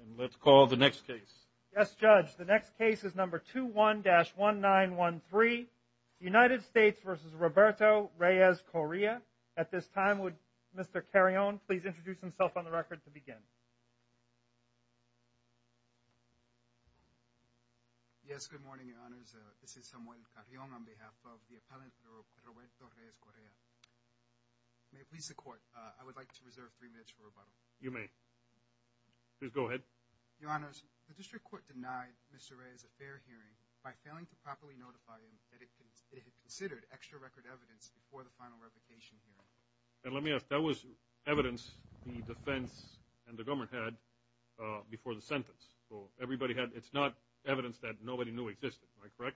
and let's call the next case yes judge the next case is number 21-1913 united states versus roberto reyes correa at this time would mr carrion please introduce himself on the record to begin yes good morning your honors uh this is samuel carrion on behalf of the appellant roberto reyes correa may please the court uh i would like to reserve three minutes you may please go ahead your honors the district court denied mr ray is a fair hearing by failing to properly notify him that it had considered extra record evidence before the final revocation hearing and let me ask that was evidence the defense and the government had uh before the sentence so everybody had it's not evidence that nobody knew existed am i correct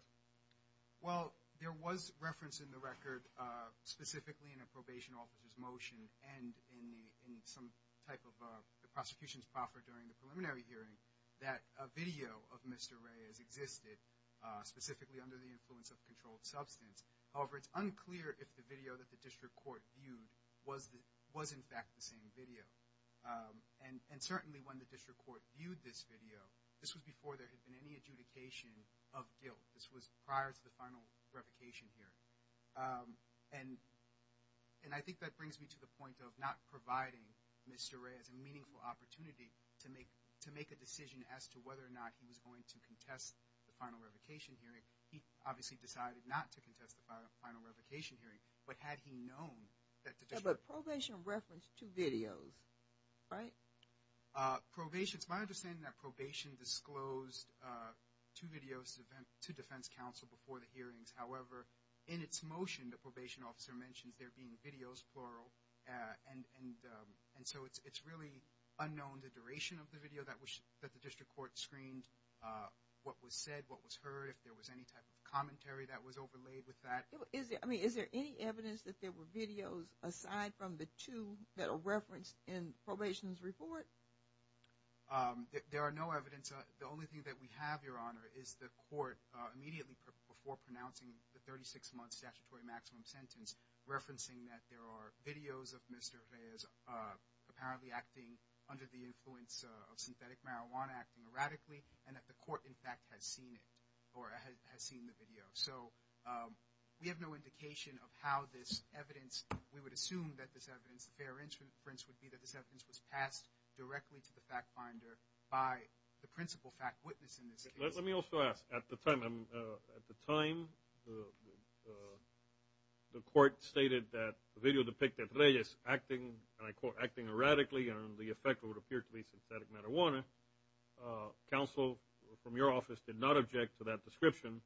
well there was reference in the record uh specifically in a probation officer's motion and in the in type of the prosecution's proffer during the preliminary hearing that a video of mr ray has existed uh specifically under the influence of controlled substance however it's unclear if the video that the district court viewed was the was in fact the same video um and and certainly when the district court viewed this video this was before there had been any adjudication of guilt this was prior to the final revocation hearing um and and i think that brings me to the point of not providing mr ray as a meaningful opportunity to make to make a decision as to whether or not he was going to contest the final revocation hearing he obviously decided not to contest the final revocation hearing but had he known that the probation referenced two videos right uh probation it's my understanding that probation disclosed uh two videos event to defense council before the hearings however in its motion the probation officer mentions there being videos plural uh and and um and so it's it's really unknown the duration of the video that was that the district court screened uh what was said what was heard if there was any type of commentary that was overlaid with that is there i mean is there any evidence that there were videos aside from the two that are referenced in probation's report um there are no evidence the only thing that we have your honor is the court uh immediately before pronouncing the 36 statutory maximum sentence referencing that there are videos of mr reyes uh apparently acting under the influence of synthetic marijuana acting erratically and that the court in fact has seen it or has seen the video so um we have no indication of how this evidence we would assume that this evidence the fair inference would be that this evidence was passed directly to the fact finder by the principal fact witness in this case let me also ask at the time i'm uh at the time the court stated that the video depicted reyes acting and i quote acting erratically and the effect would appear to be synthetic marijuana uh counsel from your office did not object to that description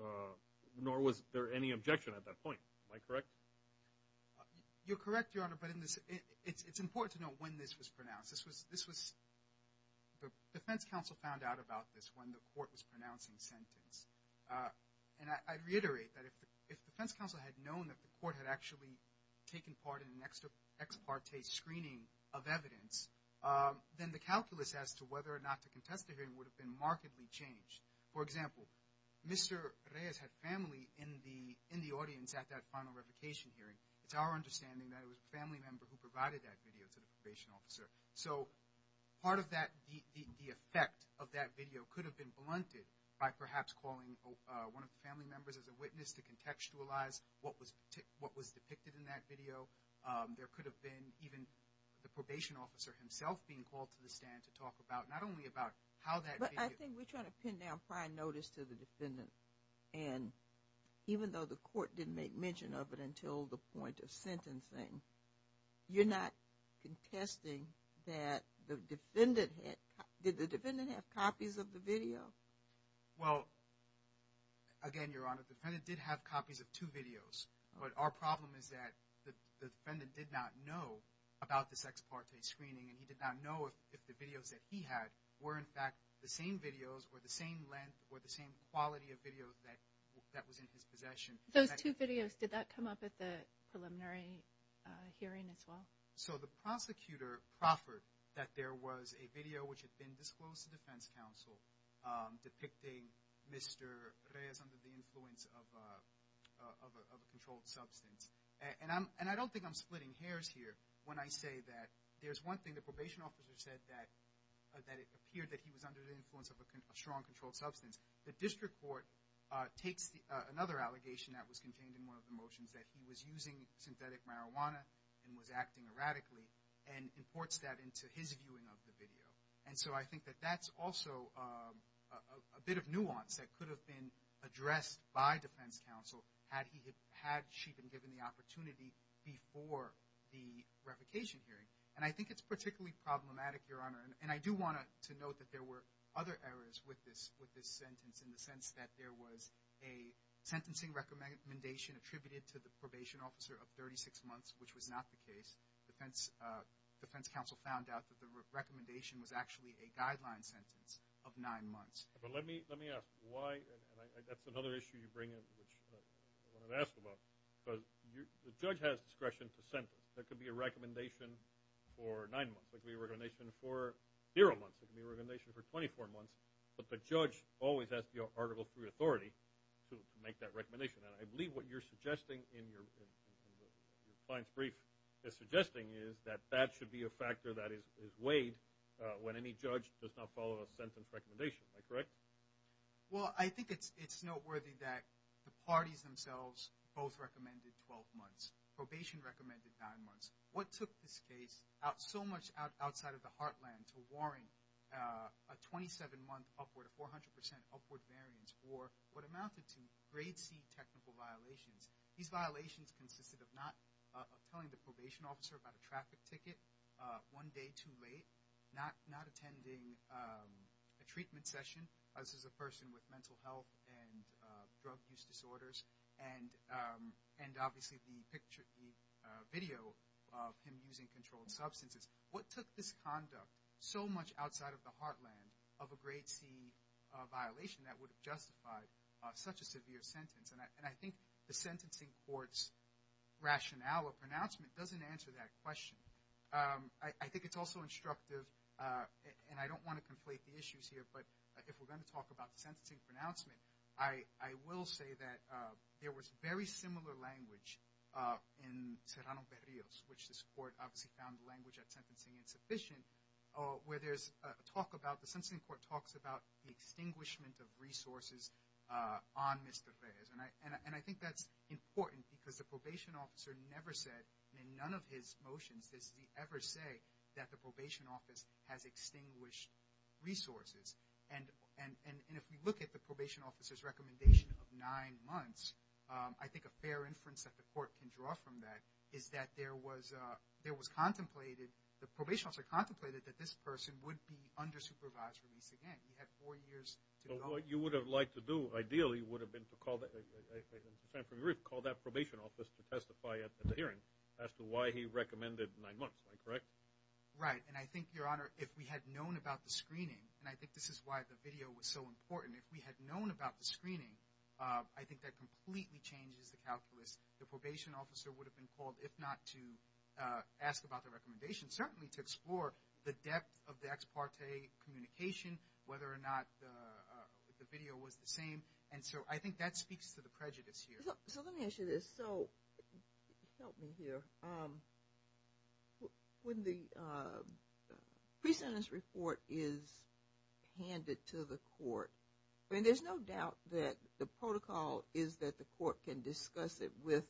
uh nor was there any objection at that point am i correct you're correct your it's important to know when this was pronounced this was this was the defense counsel found out about this when the court was pronouncing sentence and i reiterate that if the defense counsel had known that the court had actually taken part in an extra ex parte screening of evidence then the calculus as to whether or not to contest the hearing would have been markedly changed for example mr reyes had family in the in the audience at that final revocation hearing it's our understanding that it was a family member who provided that video to the probation officer so part of that the effect of that video could have been blunted by perhaps calling uh one of the family members as a witness to contextualize what was what was depicted in that video um there could have been even the probation officer himself being called to the stand to talk about not only about how that i think we're trying to pin down prior notice to the defendant and even though the court didn't make mention of it until the point of sentencing you're not contesting that the defendant had did the defendant have copies of the video well again your honor the defendant did have copies of two videos but our problem is that the defendant did not know about this ex parte screening and he did not know if the videos that he had were in fact the same videos or the same length or the same quality of video that that was in his possession those two videos did that come up at the preliminary uh hearing as well so the prosecutor proffered that there was a video which had been disclosed to defense counsel um depicting mr reyes under the influence of a of a controlled substance and i'm and i don't think i'm splitting hairs here when i say that there's one thing the probation officer said that that it appeared that he was under the influence of a strong controlled substance the district court uh takes the another allegation that was contained in one of the motions that he was using synthetic marijuana and was acting erratically and imports that into his viewing of the video and so i think that that's also a a bit of nuance that could have been addressed by defense counsel had he had she been given the opportunity before the revocation hearing and i think it's particularly problematic your honor and i do want to note that there were other errors with this with this sentence in the sense that there was a sentencing recommendation attributed to the probation officer of 36 months which was not the case defense uh defense counsel found out that the recommendation was actually a guideline sentence of nine months but let me let me ask why and i that's another issue you bring in which i want to ask about because you the judge has discretion to sentence there could be a recommendation for nine months it could be a recommendation for zero months it can be a recommendation for 24 months but the judge always has the article through authority to make that recommendation and i believe what you're suggesting in your client's brief is suggesting is that that should be a factor that is is weighed uh when any judge does not follow a sentence recommendation am i correct well i think it's it's noteworthy that the parties themselves both recommended 12 months probation recommended nine months what took this case out so much out outside of the heartland to warrant uh a 27 month upward a 400 percent upward variance for what amounted to grade c technical violations these violations consisted of not uh telling the probation officer about a traffic ticket uh one day too late not not attending um a treatment session this is a video of him using controlled substances what took this conduct so much outside of the heartland of a grade c violation that would have justified such a severe sentence and i and i think the sentencing court's rationale or pronouncement doesn't answer that question um i think it's also instructive uh and i don't want to conflate the issues here but if we're going to talk about sentencing pronouncement i i will say that uh there was very similar language uh in serrano perillos which this court obviously found the language at sentencing insufficient where there's a talk about the sensing court talks about the extinguishment of resources uh on mr reyes and i and i think that's important because the probation officer never said and in none of his motions does he ever say that the probation office has extinguished resources and and and if we look at the probation officer's recommendation of nine months um i think a fair inference that the court can draw from that is that there was uh there was contemplated the probation officer contemplated that this person would be under supervised release again we had four years so what you would have liked to do ideally would have been to call that call that probation office to testify at the hearing as to why he recommended nine months correct right and i think your honor if we had known about the screening and i think this is why the video was so important if we had known about the screening uh i think that completely changes the calculus the probation officer would have been called if not to uh ask about the recommendation certainly to explore the depth of the ex parte communication whether or not the video was the same and so i think that speaks to the prejudice here so let me issue this so help me here um when the uh pre-sentence report is handed to the court i mean there's no doubt that the protocol is that the court can discuss it with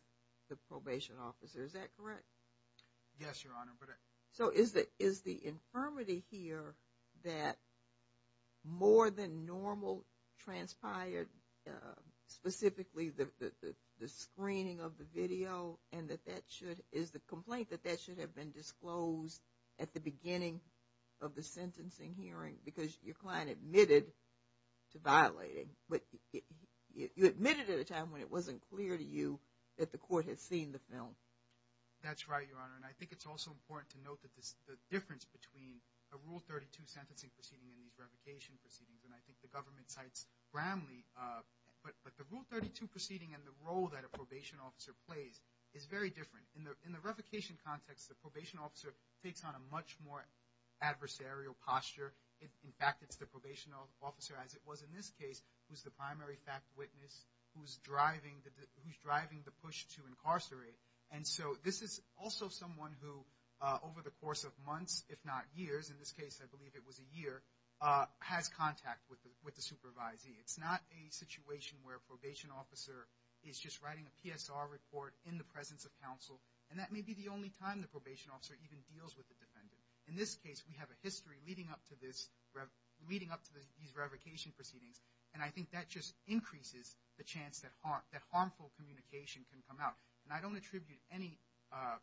the probation officer is that correct yes your honor but so is that is the infirmity here that more than normal transpired uh and that that should is the complaint that that should have been disclosed at the beginning of the sentencing hearing because your client admitted to violating but you admitted at a time when it wasn't clear to you that the court had seen the film that's right your honor and i think it's also important to note that this the difference between a rule 32 sentencing proceeding and these revocation proceedings and i think the government cites bramley uh but but the rule 32 proceeding and the role that a probation officer plays is very different in the in the revocation context the probation officer takes on a much more adversarial posture in fact it's the probation officer as it was in this case who's the primary fact witness who's driving the who's driving the push to incarcerate and so this is also someone who uh over the course of months if not years in this case i believe it was a year uh has contact with with the supervisee it's not a is just writing a psr report in the presence of counsel and that may be the only time the probation officer even deals with the defendant in this case we have a history leading up to this leading up to these revocation proceedings and i think that just increases the chance that harm that harmful communication can come out and i don't attribute any uh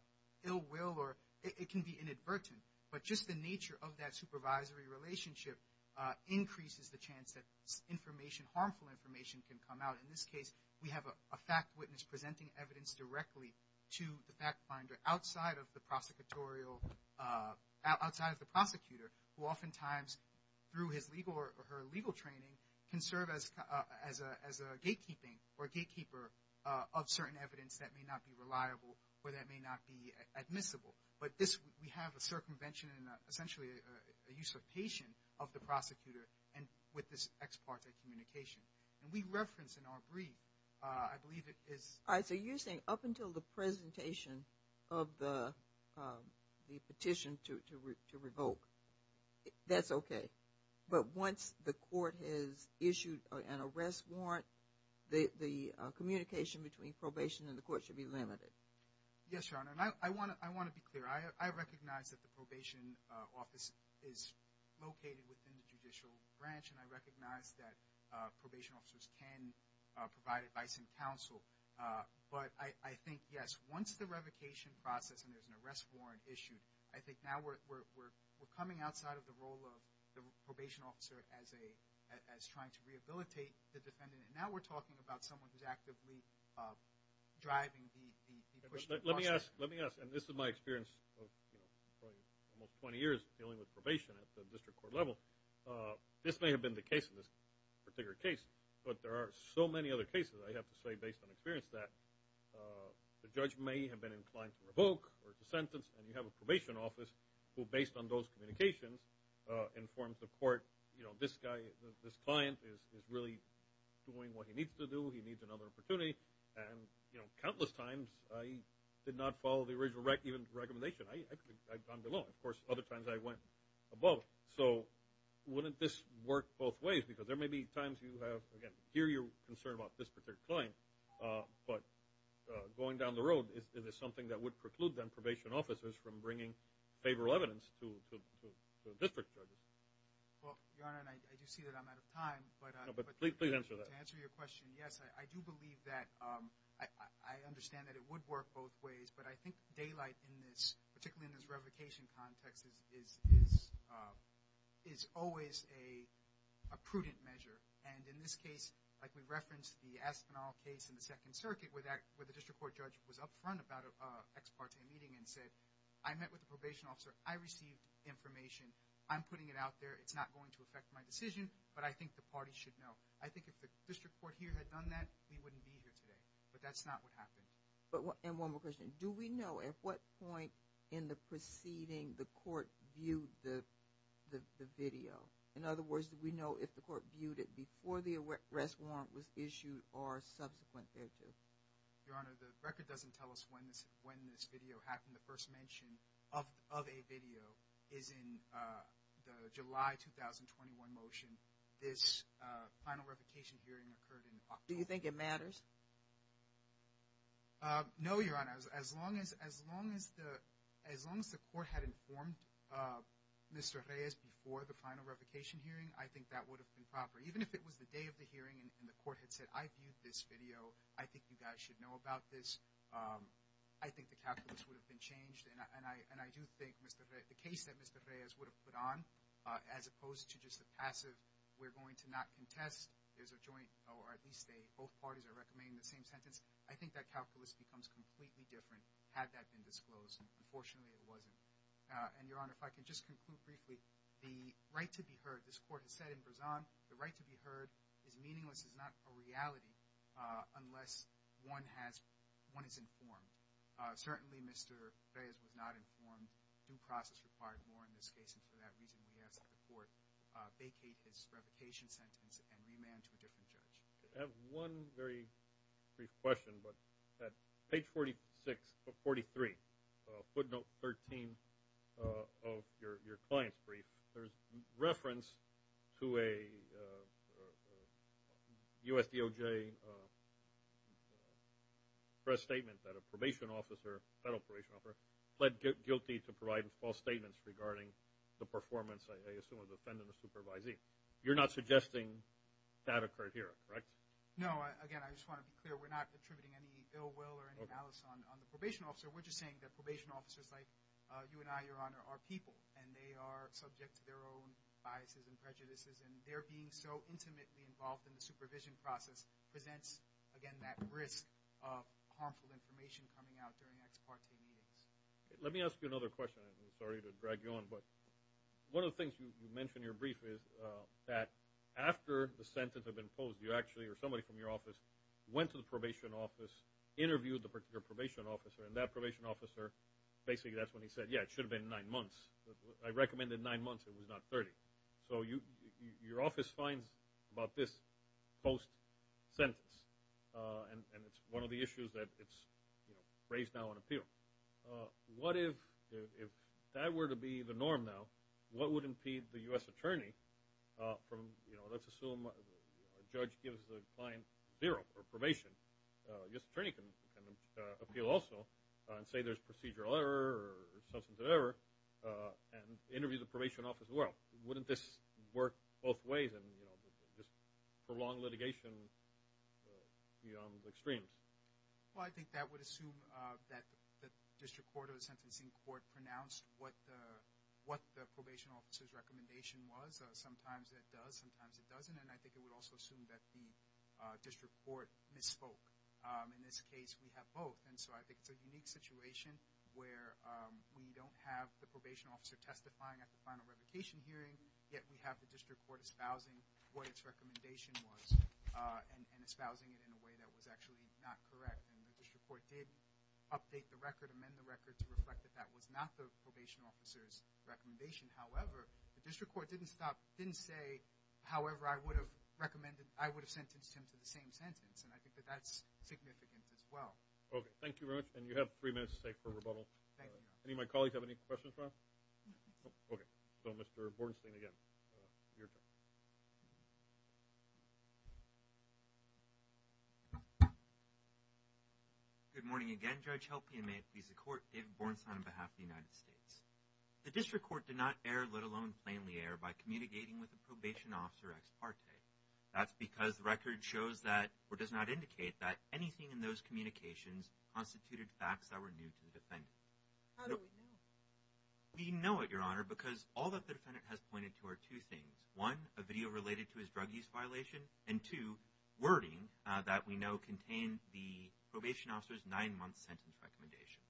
ill will or it can be inadvertent but just the nature of that supervisory relationship uh increases the chance that information harmful information can come out in this case we have a fact witness presenting evidence directly to the fact finder outside of the prosecutorial uh outside of the prosecutor who oftentimes through his legal or her legal training can serve as uh as a as a gatekeeping or gatekeeper uh of certain evidence that may not be reliable or that may not be admissible but this we have a circumvention and essentially a usurpation of the prosecutor and with this ex parte communication and we reference in our brief uh i believe it is all right so you're saying up until the presentation of the um the petition to to revoke that's okay but once the court has issued an arrest warrant the the communication between probation and the court should be limited yes your honor and i i want to i want to be clear i i recognize that the probation office is located within the judicial branch and i recognize that uh probation officers can provide advice and counsel uh but i i think yes once the revocation process and there's an arrest warrant issued i think now we're we're we're coming outside of the role of the probation officer as a as trying to rehabilitate the defendant and now we're talking about someone who's actively uh driving the let me ask let me ask and this is my experience of almost 20 years dealing with probation at the district court level uh this may have been the case in this particular case but there are so many other cases i have to say based on experience that uh the judge may have been inclined to revoke or to sentence and you have a probation office who based on those communications uh informed the court you know this guy this client is is really doing what he needs to do he needs another opportunity and you know countless times i did not follow the original right even recommendation i i've gone below of course other times i went above so wouldn't this work both ways because there may be times you have again here you're concerned about this particular client uh but uh going down the road is there something that would preclude them probation officers from bringing favorable evidence to district judges well your honor and i do see that i'm out of time but uh but please please answer your question yes i i do believe that um i i understand that it would work both ways but i think daylight in this particularly in this revocation context is is is uh is always a a prudent measure and in this case like we referenced the espinal case in the second circuit with that where the district court judge was up front about a ex parte meeting and said i met with the probation officer i received information i'm putting it out there it's going to affect my decision but i think the party should know i think if the district court here had done that we wouldn't be here today but that's not what happened but and one more question do we know at what point in the proceeding the court viewed the the video in other words do we know if the court viewed it before the arrest warrant was issued or subsequent your honor the record doesn't tell us when this when this video happened the first mention of of a video is in uh the july 2021 motion this uh final revocation hearing occurred in october do you think it matters uh no your honor as long as as long as the as long as the court had informed uh mr reyes before the final revocation hearing i think that would have been proper even if it was the day of the hearing and the court had said i viewed this video i think you guys should know um i think the calculus would have been changed and i and i do think mr the case that mr reyes would have put on uh as opposed to just a passive we're going to not contest there's a joint or at least a both parties are recommending the same sentence i think that calculus becomes completely different had that been disclosed unfortunately it wasn't uh and your honor if i can just conclude briefly the right to be heard this court has said in brazan the right to be heard is meaningless is not a reality uh unless one has one is informed uh certainly mr reyes was not informed due process required more in this case and for that reason we ask the court uh vacate his revocation sentence and remand to a different judge i have one very brief question but at page 46 43 uh footnote 13 uh of your your client's brief there's reference to a usdoj press statement that a probation officer federal probation offer pled guilty to provide false statements regarding the performance i assume of the defendant the supervisee you're not suggesting that occurred here correct no again i just want to be clear we're not attributing any ill will or on the probation officer we're just saying that probation officers like uh you and i your honor are people and they are subject to their own biases and prejudices and they're being so intimately involved in the supervision process presents again that risk of harmful information coming out during ex parte meetings let me ask you another question i'm sorry to drag you on but one of the things you mentioned your brief is uh that after the sentence have been posed you probation officer and that probation officer basically that's when he said yeah it should have been nine months i recommended nine months it was not 30 so you your office finds about this post sentence uh and and it's one of the issues that it's you know raised now on appeal uh what if if that were to be the norm now what would impede the u.s attorney uh from you know let's appeal also and say there's procedural error or substance of error uh and interview the probation office as well wouldn't this work both ways and you know just for long litigation beyond the extremes well i think that would assume uh that the district court of the sentencing court pronounced what the what the probation officer's recommendation was sometimes it does sometimes it doesn't and i think it would also assume that the uh district court misspoke um in this case we have both and so i think it's a unique situation where um we don't have the probation officer testifying at the final revocation hearing yet we have the district court espousing what its recommendation was uh and espousing it in a way that was actually not correct and the district court did update the record amend the record to reflect that that was not the probation officer's recommendation however the district court didn't stop didn't say however i would have recommended i would have sentenced him to the same sentence and i think that that's significant as well okay thank you very much and you have three minutes safe for rebuttal thank you any of my colleagues have any questions about okay so mr bornstein again good morning again judge helping me please the court david bornstein on behalf of the united states the district court did not err let alone plainly err by communicating with the probation officer ex parte that's because the record shows that or does not indicate that anything in those communications constituted facts that were new to the defendant how do we know we know it your honor because all that the defendant has pointed to are two things one a video related to his drug use violation and two wording uh that we know contained the probation officer's nine-month sentence recommendation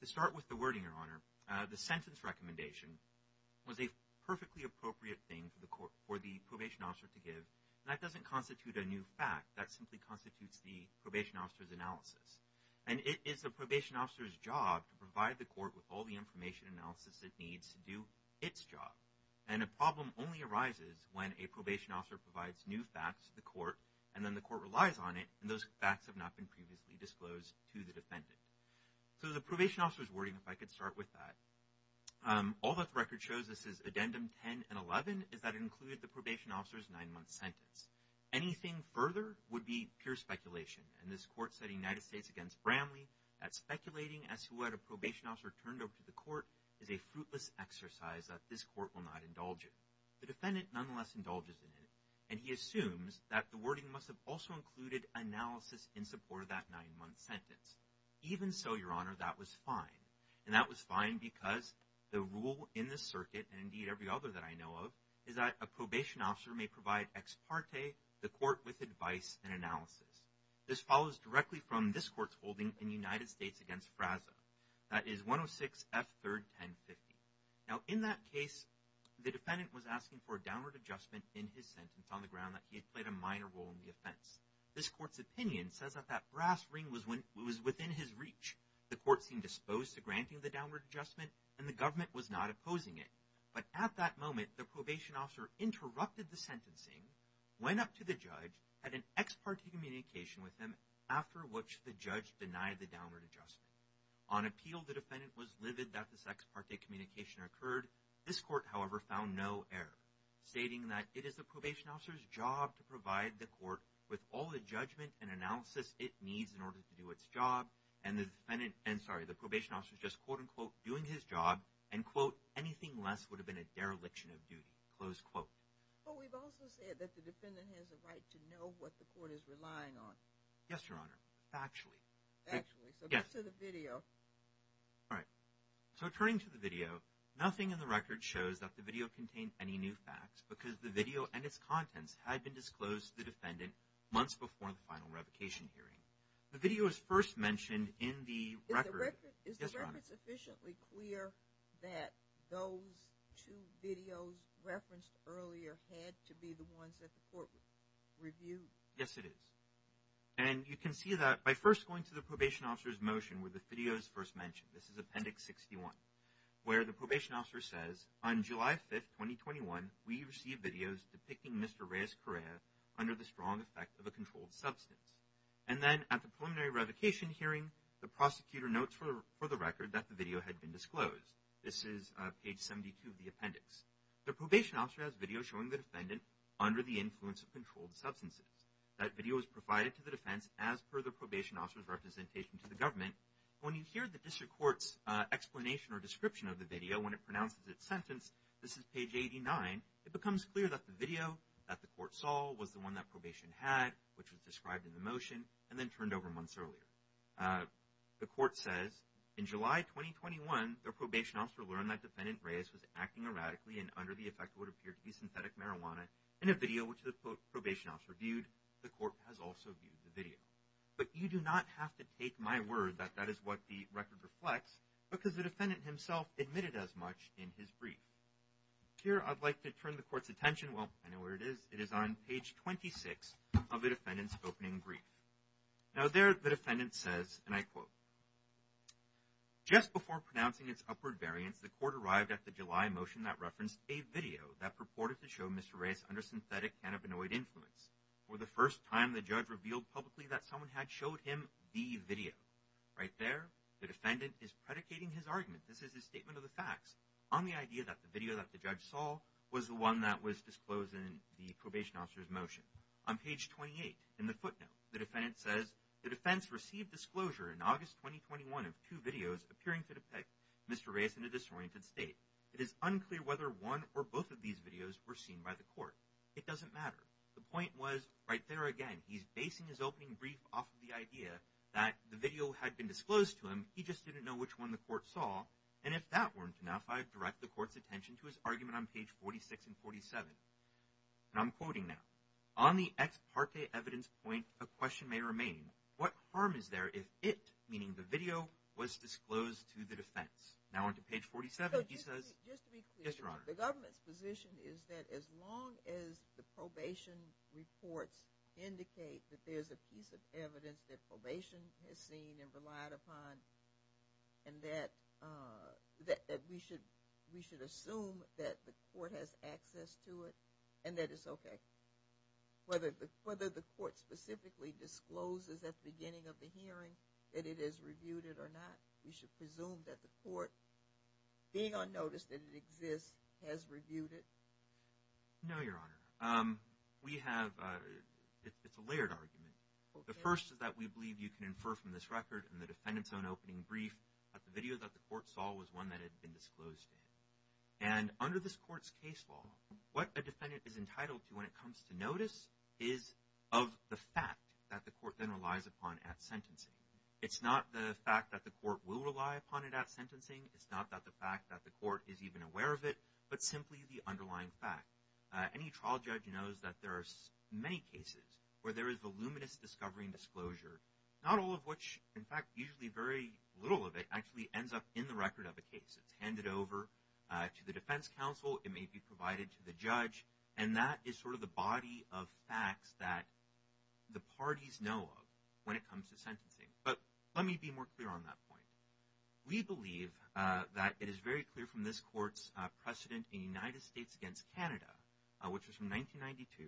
to start with the wording your honor uh the sentence recommendation was a probation officer to give that doesn't constitute a new fact that simply constitutes the probation officer's analysis and it is the probation officer's job to provide the court with all the information analysis it needs to do its job and a problem only arises when a probation officer provides new facts to the court and then the court relies on it and those facts have not been previously disclosed to the defendant so the probation officer's wording if i could start with that um all that the record shows this is addendum 10 and 11 is that included the probation officer's nine-month sentence anything further would be pure speculation and this court said united states against bramley at speculating as to what a probation officer turned over to the court is a fruitless exercise that this court will not indulge in the defendant nonetheless indulges in it and he assumes that the wording must have also included analysis in support of that nine-month sentence even so your honor that was fine and that was fine because the rule in the circuit and indeed every other that i know of is that a probation officer may provide ex parte the court with advice and analysis this follows directly from this court's holding in united states against frazza that is 106 f third 1050 now in that case the defendant was asking for a downward adjustment in his sentence on the ground that he had played a minor role in the offense this court's opinion says that that brass ring was when it was within his reach the court seemed disposed to granting the downward adjustment and the government was not opposing it but at that moment the probation officer interrupted the sentencing went up to the judge had an ex parte communication with him after which the judge denied the downward adjustment on appeal the defendant was livid that this ex parte communication occurred this court however found no error stating that it is it needs in order to do its job and the defendant and sorry the probation officer is just quote-unquote doing his job and quote anything less would have been a dereliction of duty close quote but we've also said that the defendant has a right to know what the court is relying on yes your honor factually actually so get to the video all right so turning to the video nothing in the record shows that the video contains any new facts because the video and its contents had been disclosed to the defendant months before the final revocation hearing the video is first mentioned in the record is the record sufficiently clear that those two videos referenced earlier had to be the ones that the court reviewed yes it is and you can see that by first going to the probation officer's motion where the video is first mentioned this is appendix 61 where the probation officer says on july 5th 2021 we receive videos depicting mr reyes correa under the strong effect of a controlled substance and then at the preliminary revocation hearing the prosecutor notes for for the record that the video had been disclosed this is page 72 of the appendix the probation officer has video showing the defendant under the influence of controlled substances that video was provided to the defense as per the probation officer's representation to government when you hear the district court's uh explanation or description of the video when it pronounces its sentence this is page 89 it becomes clear that the video that the court saw was the one that probation had which was described in the motion and then turned over months earlier the court says in july 2021 the probation officer learned that defendant reyes was acting erratically and under the effect would appear to be synthetic marijuana in a video which the probation officer the court has also viewed the video but you do not have to take my word that that is what the record reflects because the defendant himself admitted as much in his brief here i'd like to turn the court's attention well i know where it is it is on page 26 of the defendant's opening brief now there the defendant says and i quote just before pronouncing its upward variance the court arrived at the july motion that referenced a video that purported to show mr reyes under synthetic cannabinoid influence for the first time the judge revealed publicly that someone had showed him the video right there the defendant is predicating his argument this is his statement of the facts on the idea that the video that the judge saw was the one that was disclosed in the probation officer's motion on page 28 in the footnote the defendant says the defense received disclosure in august 2021 of two videos appearing to depict mr reyes in a disoriented state it is point was right there again he's basing his opening brief off of the idea that the video had been disclosed to him he just didn't know which one the court saw and if that weren't enough i'd direct the court's attention to his argument on page 46 and 47 and i'm quoting now on the ex parte evidence point a question may remain what harm is there if it meaning the video was disclosed to the defense now onto page 47 he says just to be clear the government's position is that as long as the probation reports indicate that there's a piece of evidence that probation has seen and relied upon and that uh that that we should we should assume that the court has access to it and that it's okay whether whether the court specifically discloses at the beginning of the hearing that it is reviewed it or not we should presume that the court being on notice that it exists has reviewed it no your honor um we have uh it's a layered argument the first is that we believe you can infer from this record and the defendant's own opening brief that the video that the court saw was one that had been disclosed to him and under this court's case law what a defendant is entitled to when it comes to notice is of the fact that the court then relies upon at sentencing it's not the fact that the court will rely upon it at sentencing it's not that the fact that the court is even aware of it but simply the underlying fact any trial judge knows that there are many cases where there is voluminous discovery and disclosure not all of which in fact usually very little of it actually ends up in the record of a case it's handed over to the defense counsel it may be provided to the judge and that is sort of the body of facts that the parties know of when it comes to sentencing but let me be more clear on that point we believe uh that it is very clear from this court's precedent in the united states against canada which was from 1992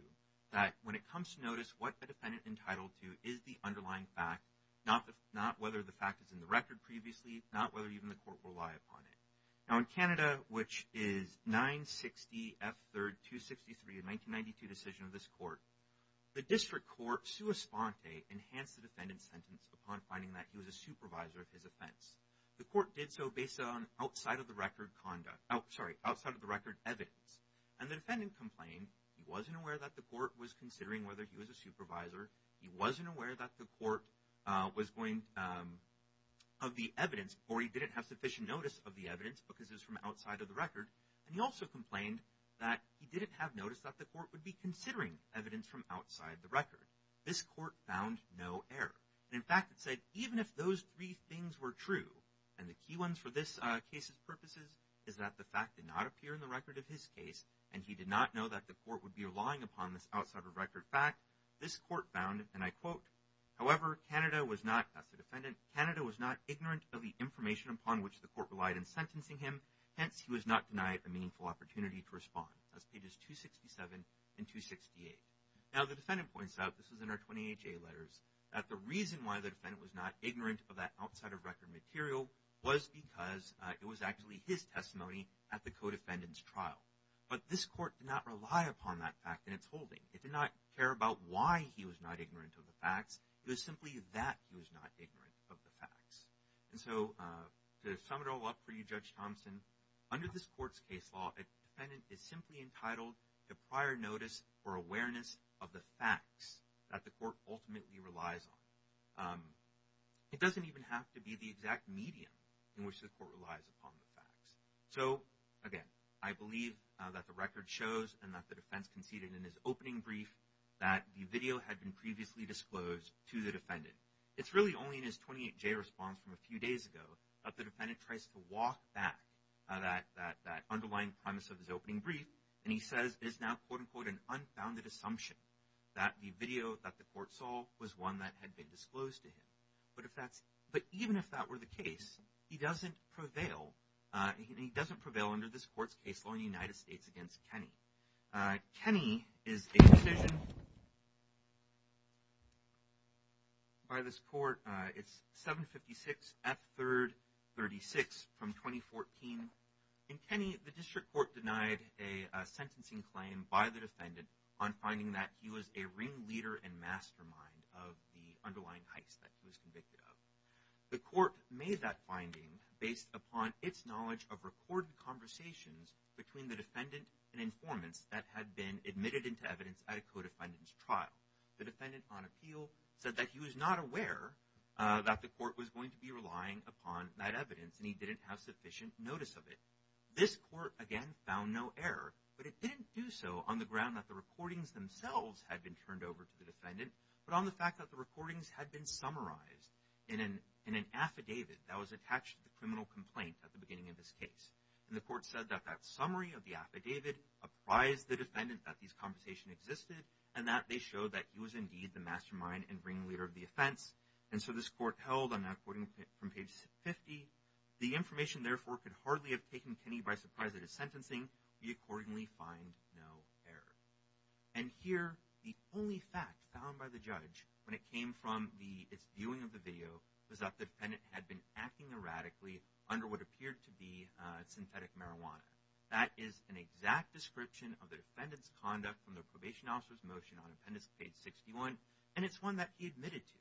that when it comes to notice what the defendant entitled to is the underlying fact not not whether the fact is in the record previously not whether even the court will rely upon it now in canada which is 960 f 3rd 263 in 1992 decision of this court the district court sua sponte enhanced the defendant's sentence upon finding that he was a supervisor of his offense the court did so based on outside of the record conduct oh sorry outside of the record evidence and the defendant complained he wasn't aware that the court was considering whether he was a supervisor he wasn't aware that the court uh was going um of the evidence or he didn't have sufficient notice of the evidence because it was from outside of the record and he also complained that he didn't have notice that the court would be considering evidence from outside the record this court found no error and in fact it said even if those three things were true and the key ones for this uh case's purposes is that the fact did not appear in the record of his case and he did not know that the court would be relying upon this outside of record fact this court found and i quote however canada was not as a defendant canada was not ignorant of the information upon which the court relied in sentencing him hence he was now the defendant points out this was in our 20ha letters that the reason why the defendant was not ignorant of that outside of record material was because it was actually his testimony at the co-defendant's trial but this court did not rely upon that fact in its holding it did not care about why he was not ignorant of the facts it was simply that he was not ignorant of the facts and so uh to sum it all up for you judge thompson under this court's case law a defendant is simply entitled to prior notice for awareness of the facts that the court ultimately relies on um it doesn't even have to be the exact medium in which the court relies upon the facts so again i believe that the record shows and that the defense conceded in his opening brief that the video had been previously disclosed to the defendant it's really only in his 28j response from a few days ago that the defendant tries to walk back uh that that that underlying premise of his opening brief and he says it is now quote-unquote an unfounded assumption that the video that the court saw was one that had been disclosed to him but if that's but even if that were the case he doesn't prevail uh he doesn't prevail under this court's case law in the united states against kenny uh kenny is a decision by this court uh it's 756 f third 36 from 2014 in kenny the district court denied a sentencing claim by the defendant on finding that he was a ring leader and mastermind of the underlying heist that he was convicted of the court made that finding based upon its knowledge of recorded conversations between the defendant and informants that had been admitted into evidence at a co-defendant's trial the defendant on appeal said that he was not aware uh that the court was going to be relying upon that evidence and he didn't have sufficient notice of it this court again found no error but it didn't do so on the ground that the recordings themselves had been turned over to the defendant but on the fact that the recordings had been summarized in an in an affidavit that was attached to the criminal complaint at the beginning of this case and the court said that that summary of the affidavit apprised the defendant that these conversation existed and that they showed that he was indeed the mastermind and ring leader of the offense and so this court held on that according from page 50 the information therefore could hardly have taken Kenny by surprise that his sentencing we accordingly find no error and here the only fact found by the judge when it came from the its viewing of the video was that the defendant had been acting erratically under what appeared to be uh synthetic marijuana that is an exact description of the defendant's conduct from the probation officer's motion on appendix page 61 and it's one that he admitted to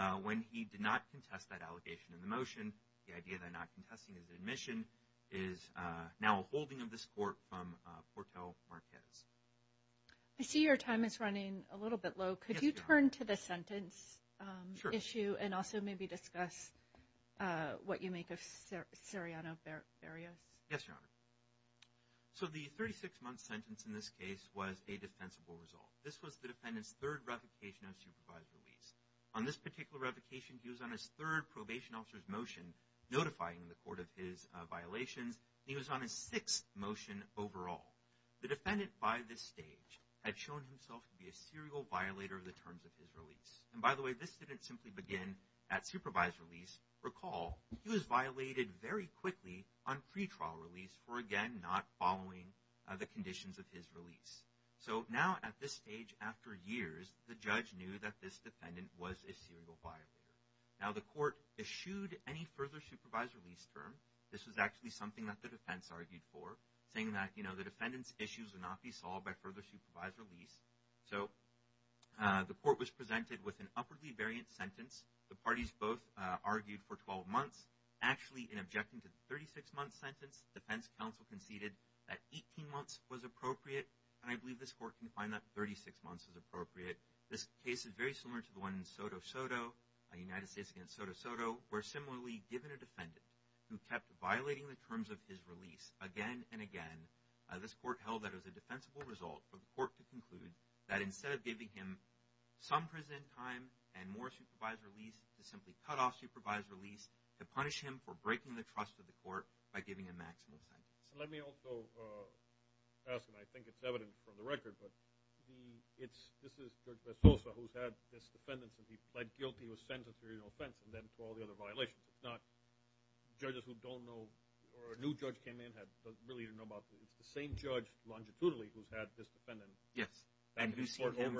uh when he did not contest that allegation in the motion the idea that not contesting his admission is uh now a holding of this court from uh porto marquez i see your time is running a little bit low could you turn to the sentence um issue and also maybe discuss uh what you make of siriano barrios yes your honor so the 36 month sentence in this case was a defensible result this was the defendant's third revocation of supervised release on this particular revocation he was on his third probation officer's motion notifying the court of his violations he was on his sixth motion overall the defendant by this stage had shown himself to be a serial violator of the terms of his release and by the way this didn't simply begin at supervised release recall he was violated very quickly on pre-trial release for again not following the conditions of his now the court eschewed any further supervised release term this was actually something that the defense argued for saying that you know the defendant's issues would not be solved by further supervised release so uh the court was presented with an upwardly variant sentence the parties both uh argued for 12 months actually in objecting to the 36 month sentence defense council conceded that 18 months was appropriate and i believe this court can find that 36 months is appropriate this case is very similar to the one in soto-soto united states against soto-soto where similarly given a defendant who kept violating the terms of his release again and again this court held that as a defensible result for the court to conclude that instead of giving him some present time and more supervised release to simply cut off supervised release to punish him for breaking the trust of the court by giving a maximal sentence let me also uh ask and i think it's evident from the record but he it's this is who's had this defendants and he pled guilty was sentenced through no offense and then to all the other violations it's not judges who don't know or a new judge came in had doesn't really even know about it it's the same judge longitudinally who's had this defendant yes and who's seen him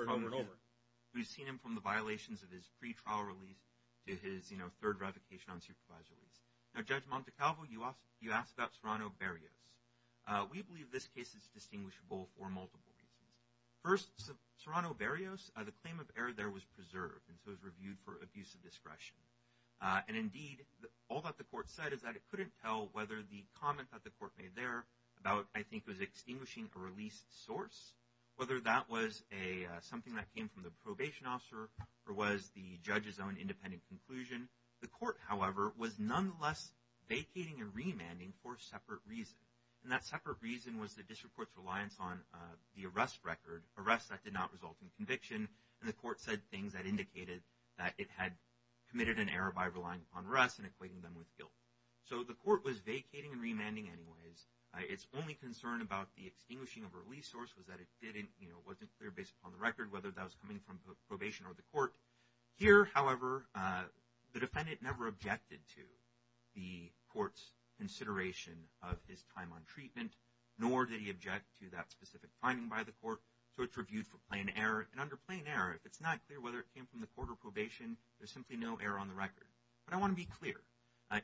from the violations of his pre-trial release to his you know third revocation on supervised release now judge montecalvo you asked you asked about uh we believe this case is distinguishable for multiple reasons first serrano barrios the claim of error there was preserved and so it was reviewed for abuse of discretion uh and indeed all that the court said is that it couldn't tell whether the comment that the court made there about i think was extinguishing a released source whether that was a something that came from the probation officer or was the judge's own independent conclusion the court however was nonetheless vacating and remanding for separate reasons and that separate reason was the district court's reliance on uh the arrest record arrests that did not result in conviction and the court said things that indicated that it had committed an error by relying upon rest and equating them with guilt so the court was vacating and remanding anyways its only concern about the extinguishing of a release source was that it didn't you know wasn't clear based upon the record whether that or the court here however uh the defendant never objected to the court's consideration of his time on treatment nor did he object to that specific finding by the court so it's reviewed for plain error and under plain error if it's not clear whether it came from the court or probation there's simply no error on the record but i want to be clear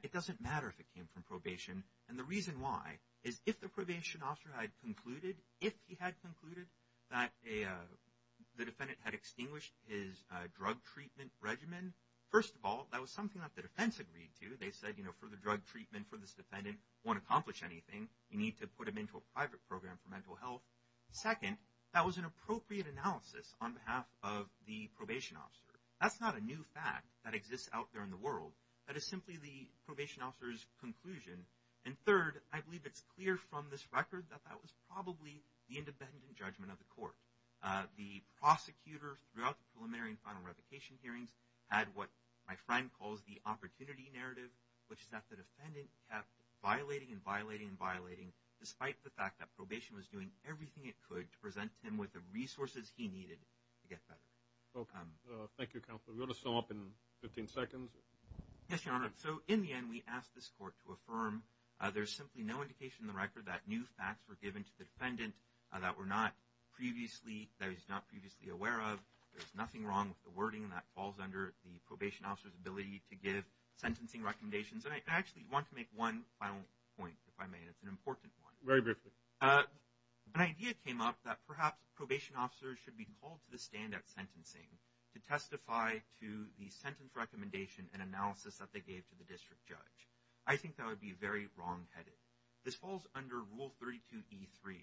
it doesn't matter if it came from probation and the reason why is if the probation officer had concluded if he had concluded that a the defendant had extinguished his drug treatment regimen first of all that was something that the defense agreed to they said you know for the drug treatment for this defendant won't accomplish anything you need to put him into a private program for mental health second that was an appropriate analysis on behalf of the probation officer that's not a new fact that exists out there in the world that is simply the probation officer's conclusion and third i believe it's clear from this record that that was probably the independent judgment of the court uh the prosecutor throughout the preliminary and final revocation hearings had what my friend calls the opportunity narrative which is that the defendant kept violating and violating and violating despite the fact that probation was doing everything it could to present him with the resources he needed to get better welcome thank you counselor we'll just show up in 15 seconds yes your honor so in we asked this court to affirm uh there's simply no indication in the record that new facts were given to the defendant that were not previously that was not previously aware of there's nothing wrong with the wording that falls under the probation officer's ability to give sentencing recommendations and i actually want to make one final point if i may it's an important one very briefly uh an idea came up that perhaps probation officers should be called to the stand at sentencing to testify to the sentence recommendation and analysis that they gave to the district judge i think that would be very wrongheaded this falls under rule 32 e3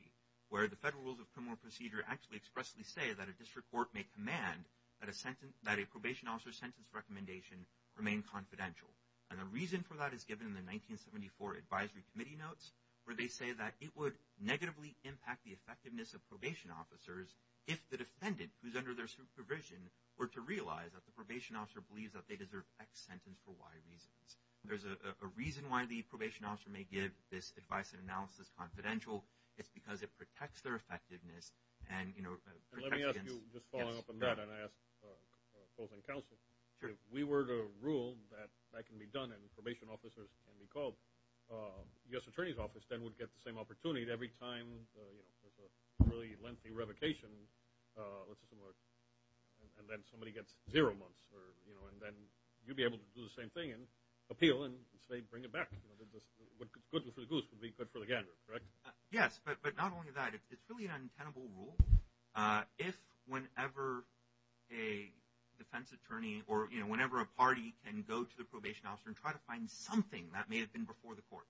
where the federal rules of criminal procedure actually expressly say that a district court may command that a sentence that a probation officer's sentence recommendation remain confidential and the reason for that is given in the 1974 advisory committee notes where they say that it would negatively impact the effectiveness of probation officers if the defendant who's under their supervision were to realize that the probation officer believes that they deserve x sentence for y reasons there's a reason why the probation officer may give this advice and analysis confidential it's because it protects their effectiveness and you know let me ask you just following up on that and i asked uh both in council if we were to rule that that can be done and probation officers can be called uh yes really lengthy revocation uh let's assume and then somebody gets zero months or you know and then you'd be able to do the same thing and appeal and say bring it back what good for the goose would be good for the gander correct yes but but not only that it's really an untenable rule uh if whenever a defense attorney or you know whenever a party can go to the probation officer and try to find something that may have been before the court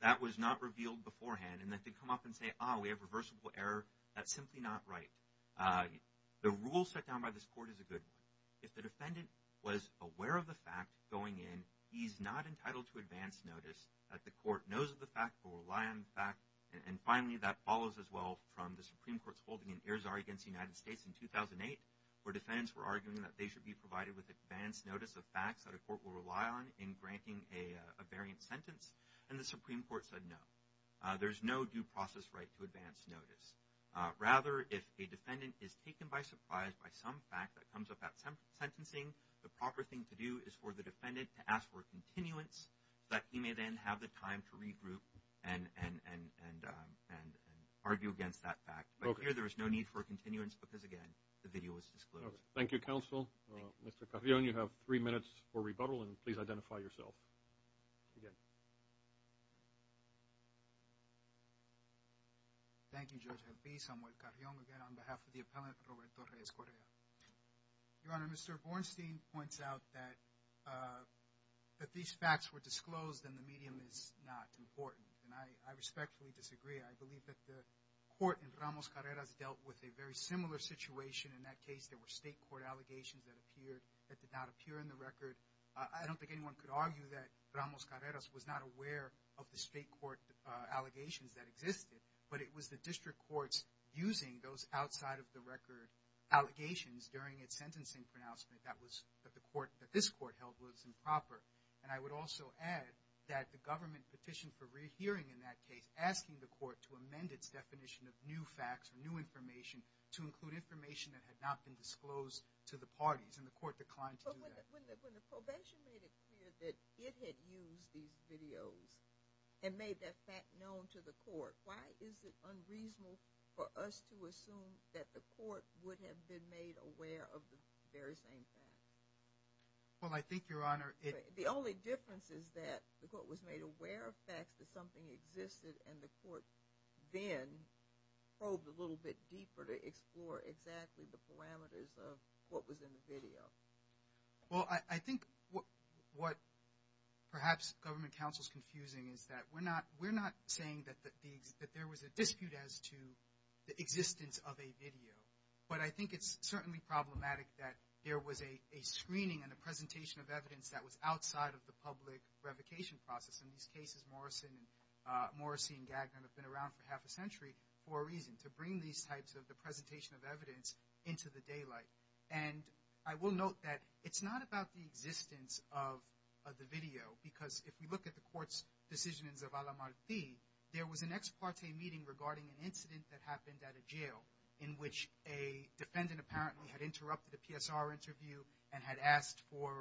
that was not revealed beforehand and that they come up and say oh we have reversible error that's simply not right uh the rule set down by this court is a good one if the defendant was aware of the fact going in he's not entitled to advanced notice that the court knows of the fact will rely on the fact and finally that follows as well from the supreme court's holding in airs are against the united states in 2008 where defendants were arguing that they should be provided with advanced notice of facts that a process right to advance notice uh rather if a defendant is taken by surprise by some fact that comes up at some sentencing the proper thing to do is for the defendant to ask for continuance that he may then have the time to regroup and and and and um and and argue against that fact but here there is no need for continuance because again the video is disclosed thank you counsel mr carrion you have three minutes for rebuttal and please identify yourself again thank you george happy samuel carrion again on behalf of the appellant roberto reyes correa your honor mr bornstein points out that uh that these facts were disclosed and the medium is not important and i i respectfully disagree i believe that the court in ramos carreras dealt with a very similar situation in that case there were state court allegations that appeared that did not appear in the record i don't think anyone could argue that ramos carreras was not aware of the state court uh allegations that existed but it was the district courts using those outside of the record allegations during its sentencing pronouncement that was that the court that this court held was improper and i would also add that the government petition for re-hearing in that asking the court to amend its definition of new facts or new information to include information that had not been disclosed to the parties and the court declined to do that when the when the prevention made it clear that it had used these videos and made that fact known to the court why is it unreasonable for us to assume that the court would have been made aware of the very same fact well i think your honor the only difference is that the court was made aware of facts that existed and the court then probed a little bit deeper to explore exactly the parameters of what was in the video well i i think what what perhaps government counsel's confusing is that we're not we're not saying that the that there was a dispute as to the existence of a video but i think it's certainly problematic that there was a a screening and a presentation of evidence that was outside of the public revocation process in these cases morrison uh morrissey and gagner have been around for half a century for a reason to bring these types of the presentation of evidence into the daylight and i will note that it's not about the existence of of the video because if we look at the court's decisions of alamarty there was an ex parte meeting regarding an incident that happened at a jail in which a defendant apparently had interrupted a psr interview and had asked for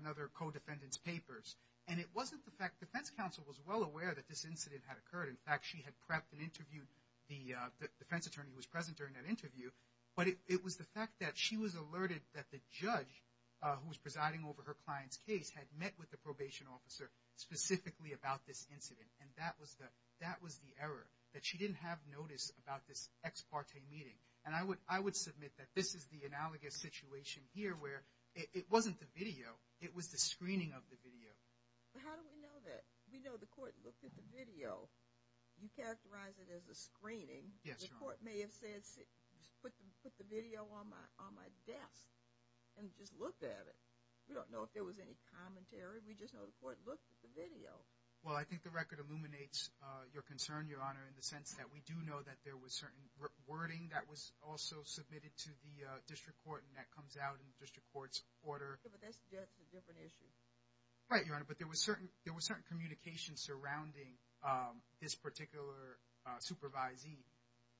another co-defendant's papers and it wasn't the fact defense counsel was well aware that this incident had occurred in fact she had prepped and interviewed the defense attorney who was present during that interview but it was the fact that she was alerted that the judge who was presiding over her client's case had met with the probation officer specifically about this incident and that was the that was the error that she didn't have notice about this ex parte meeting and i i would submit that this is the analogous situation here where it wasn't the video it was the screening of the video but how do we know that we know the court looked at the video you characterize it as a screening yes the court may have said put them put the video on my on my desk and just looked at it we don't know if there was any commentary we just know the court looked at the video well i think the record illuminates uh your concern your honor in the sense that we know that there was certain wording that was also submitted to the district court and that comes out in the district court's order but that's a different issue right your honor but there was certain there was certain communication surrounding um this particular uh supervisee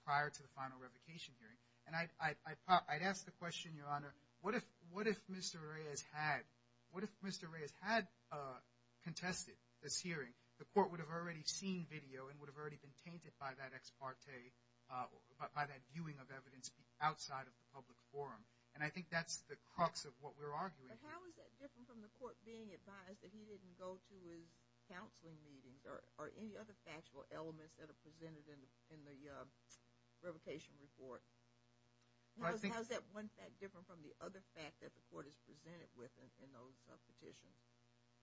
prior to the final revocation hearing and i i thought i'd ask the question your honor what if what if mr ray has had what if mr ray has had uh contested this hearing the court would have already seen video and would have already been tainted by that ex parte uh by that viewing of evidence outside of the public forum and i think that's the crux of what we're arguing how is that different from the court being advised that he didn't go to his counseling meetings or or any other factual elements that are presented in in the revocation report how's that one fact different from the other fact that the court is presented with in those petitions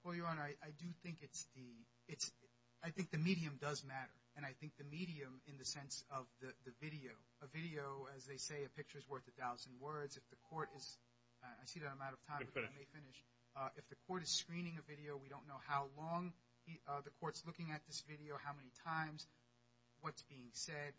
well your honor i do think it's the it's i think the medium does matter and i think the medium in the sense of the the video a video as they say a picture is worth a thousand words if the court is i see that i'm out of time but i may finish uh if the court is screening a video we don't know how long the court's looking at this video how many times what's being said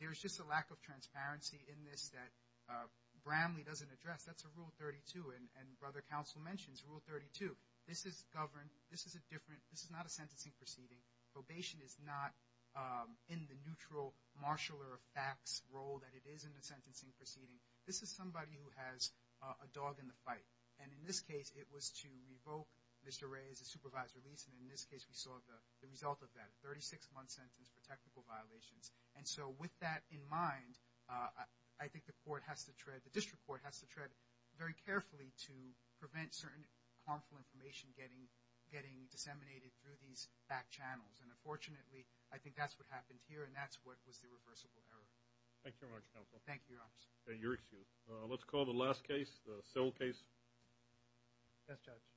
there's just a lack of transparency in this that uh bramley doesn't address that's a rule 32 and brother counsel mentions rule 32 this is governed this is a different this is not a sentencing proceeding probation is not um in the neutral marshaller of facts role that it is in the sentencing proceeding this is somebody who has a dog in the fight and in this case it was to revoke mr ray as a supervisor reason in this case we saw the the result of that 36 month sentence for technical violations and so with that in mind uh i think the court has to tread the district court has to tread very carefully to prevent certain harmful information getting getting disseminated through these back channels and unfortunately i think that's what happened here and that's what was the reversible error thank you very much counsel thank you your honor your excuse uh let's call the last case the cell case yes judge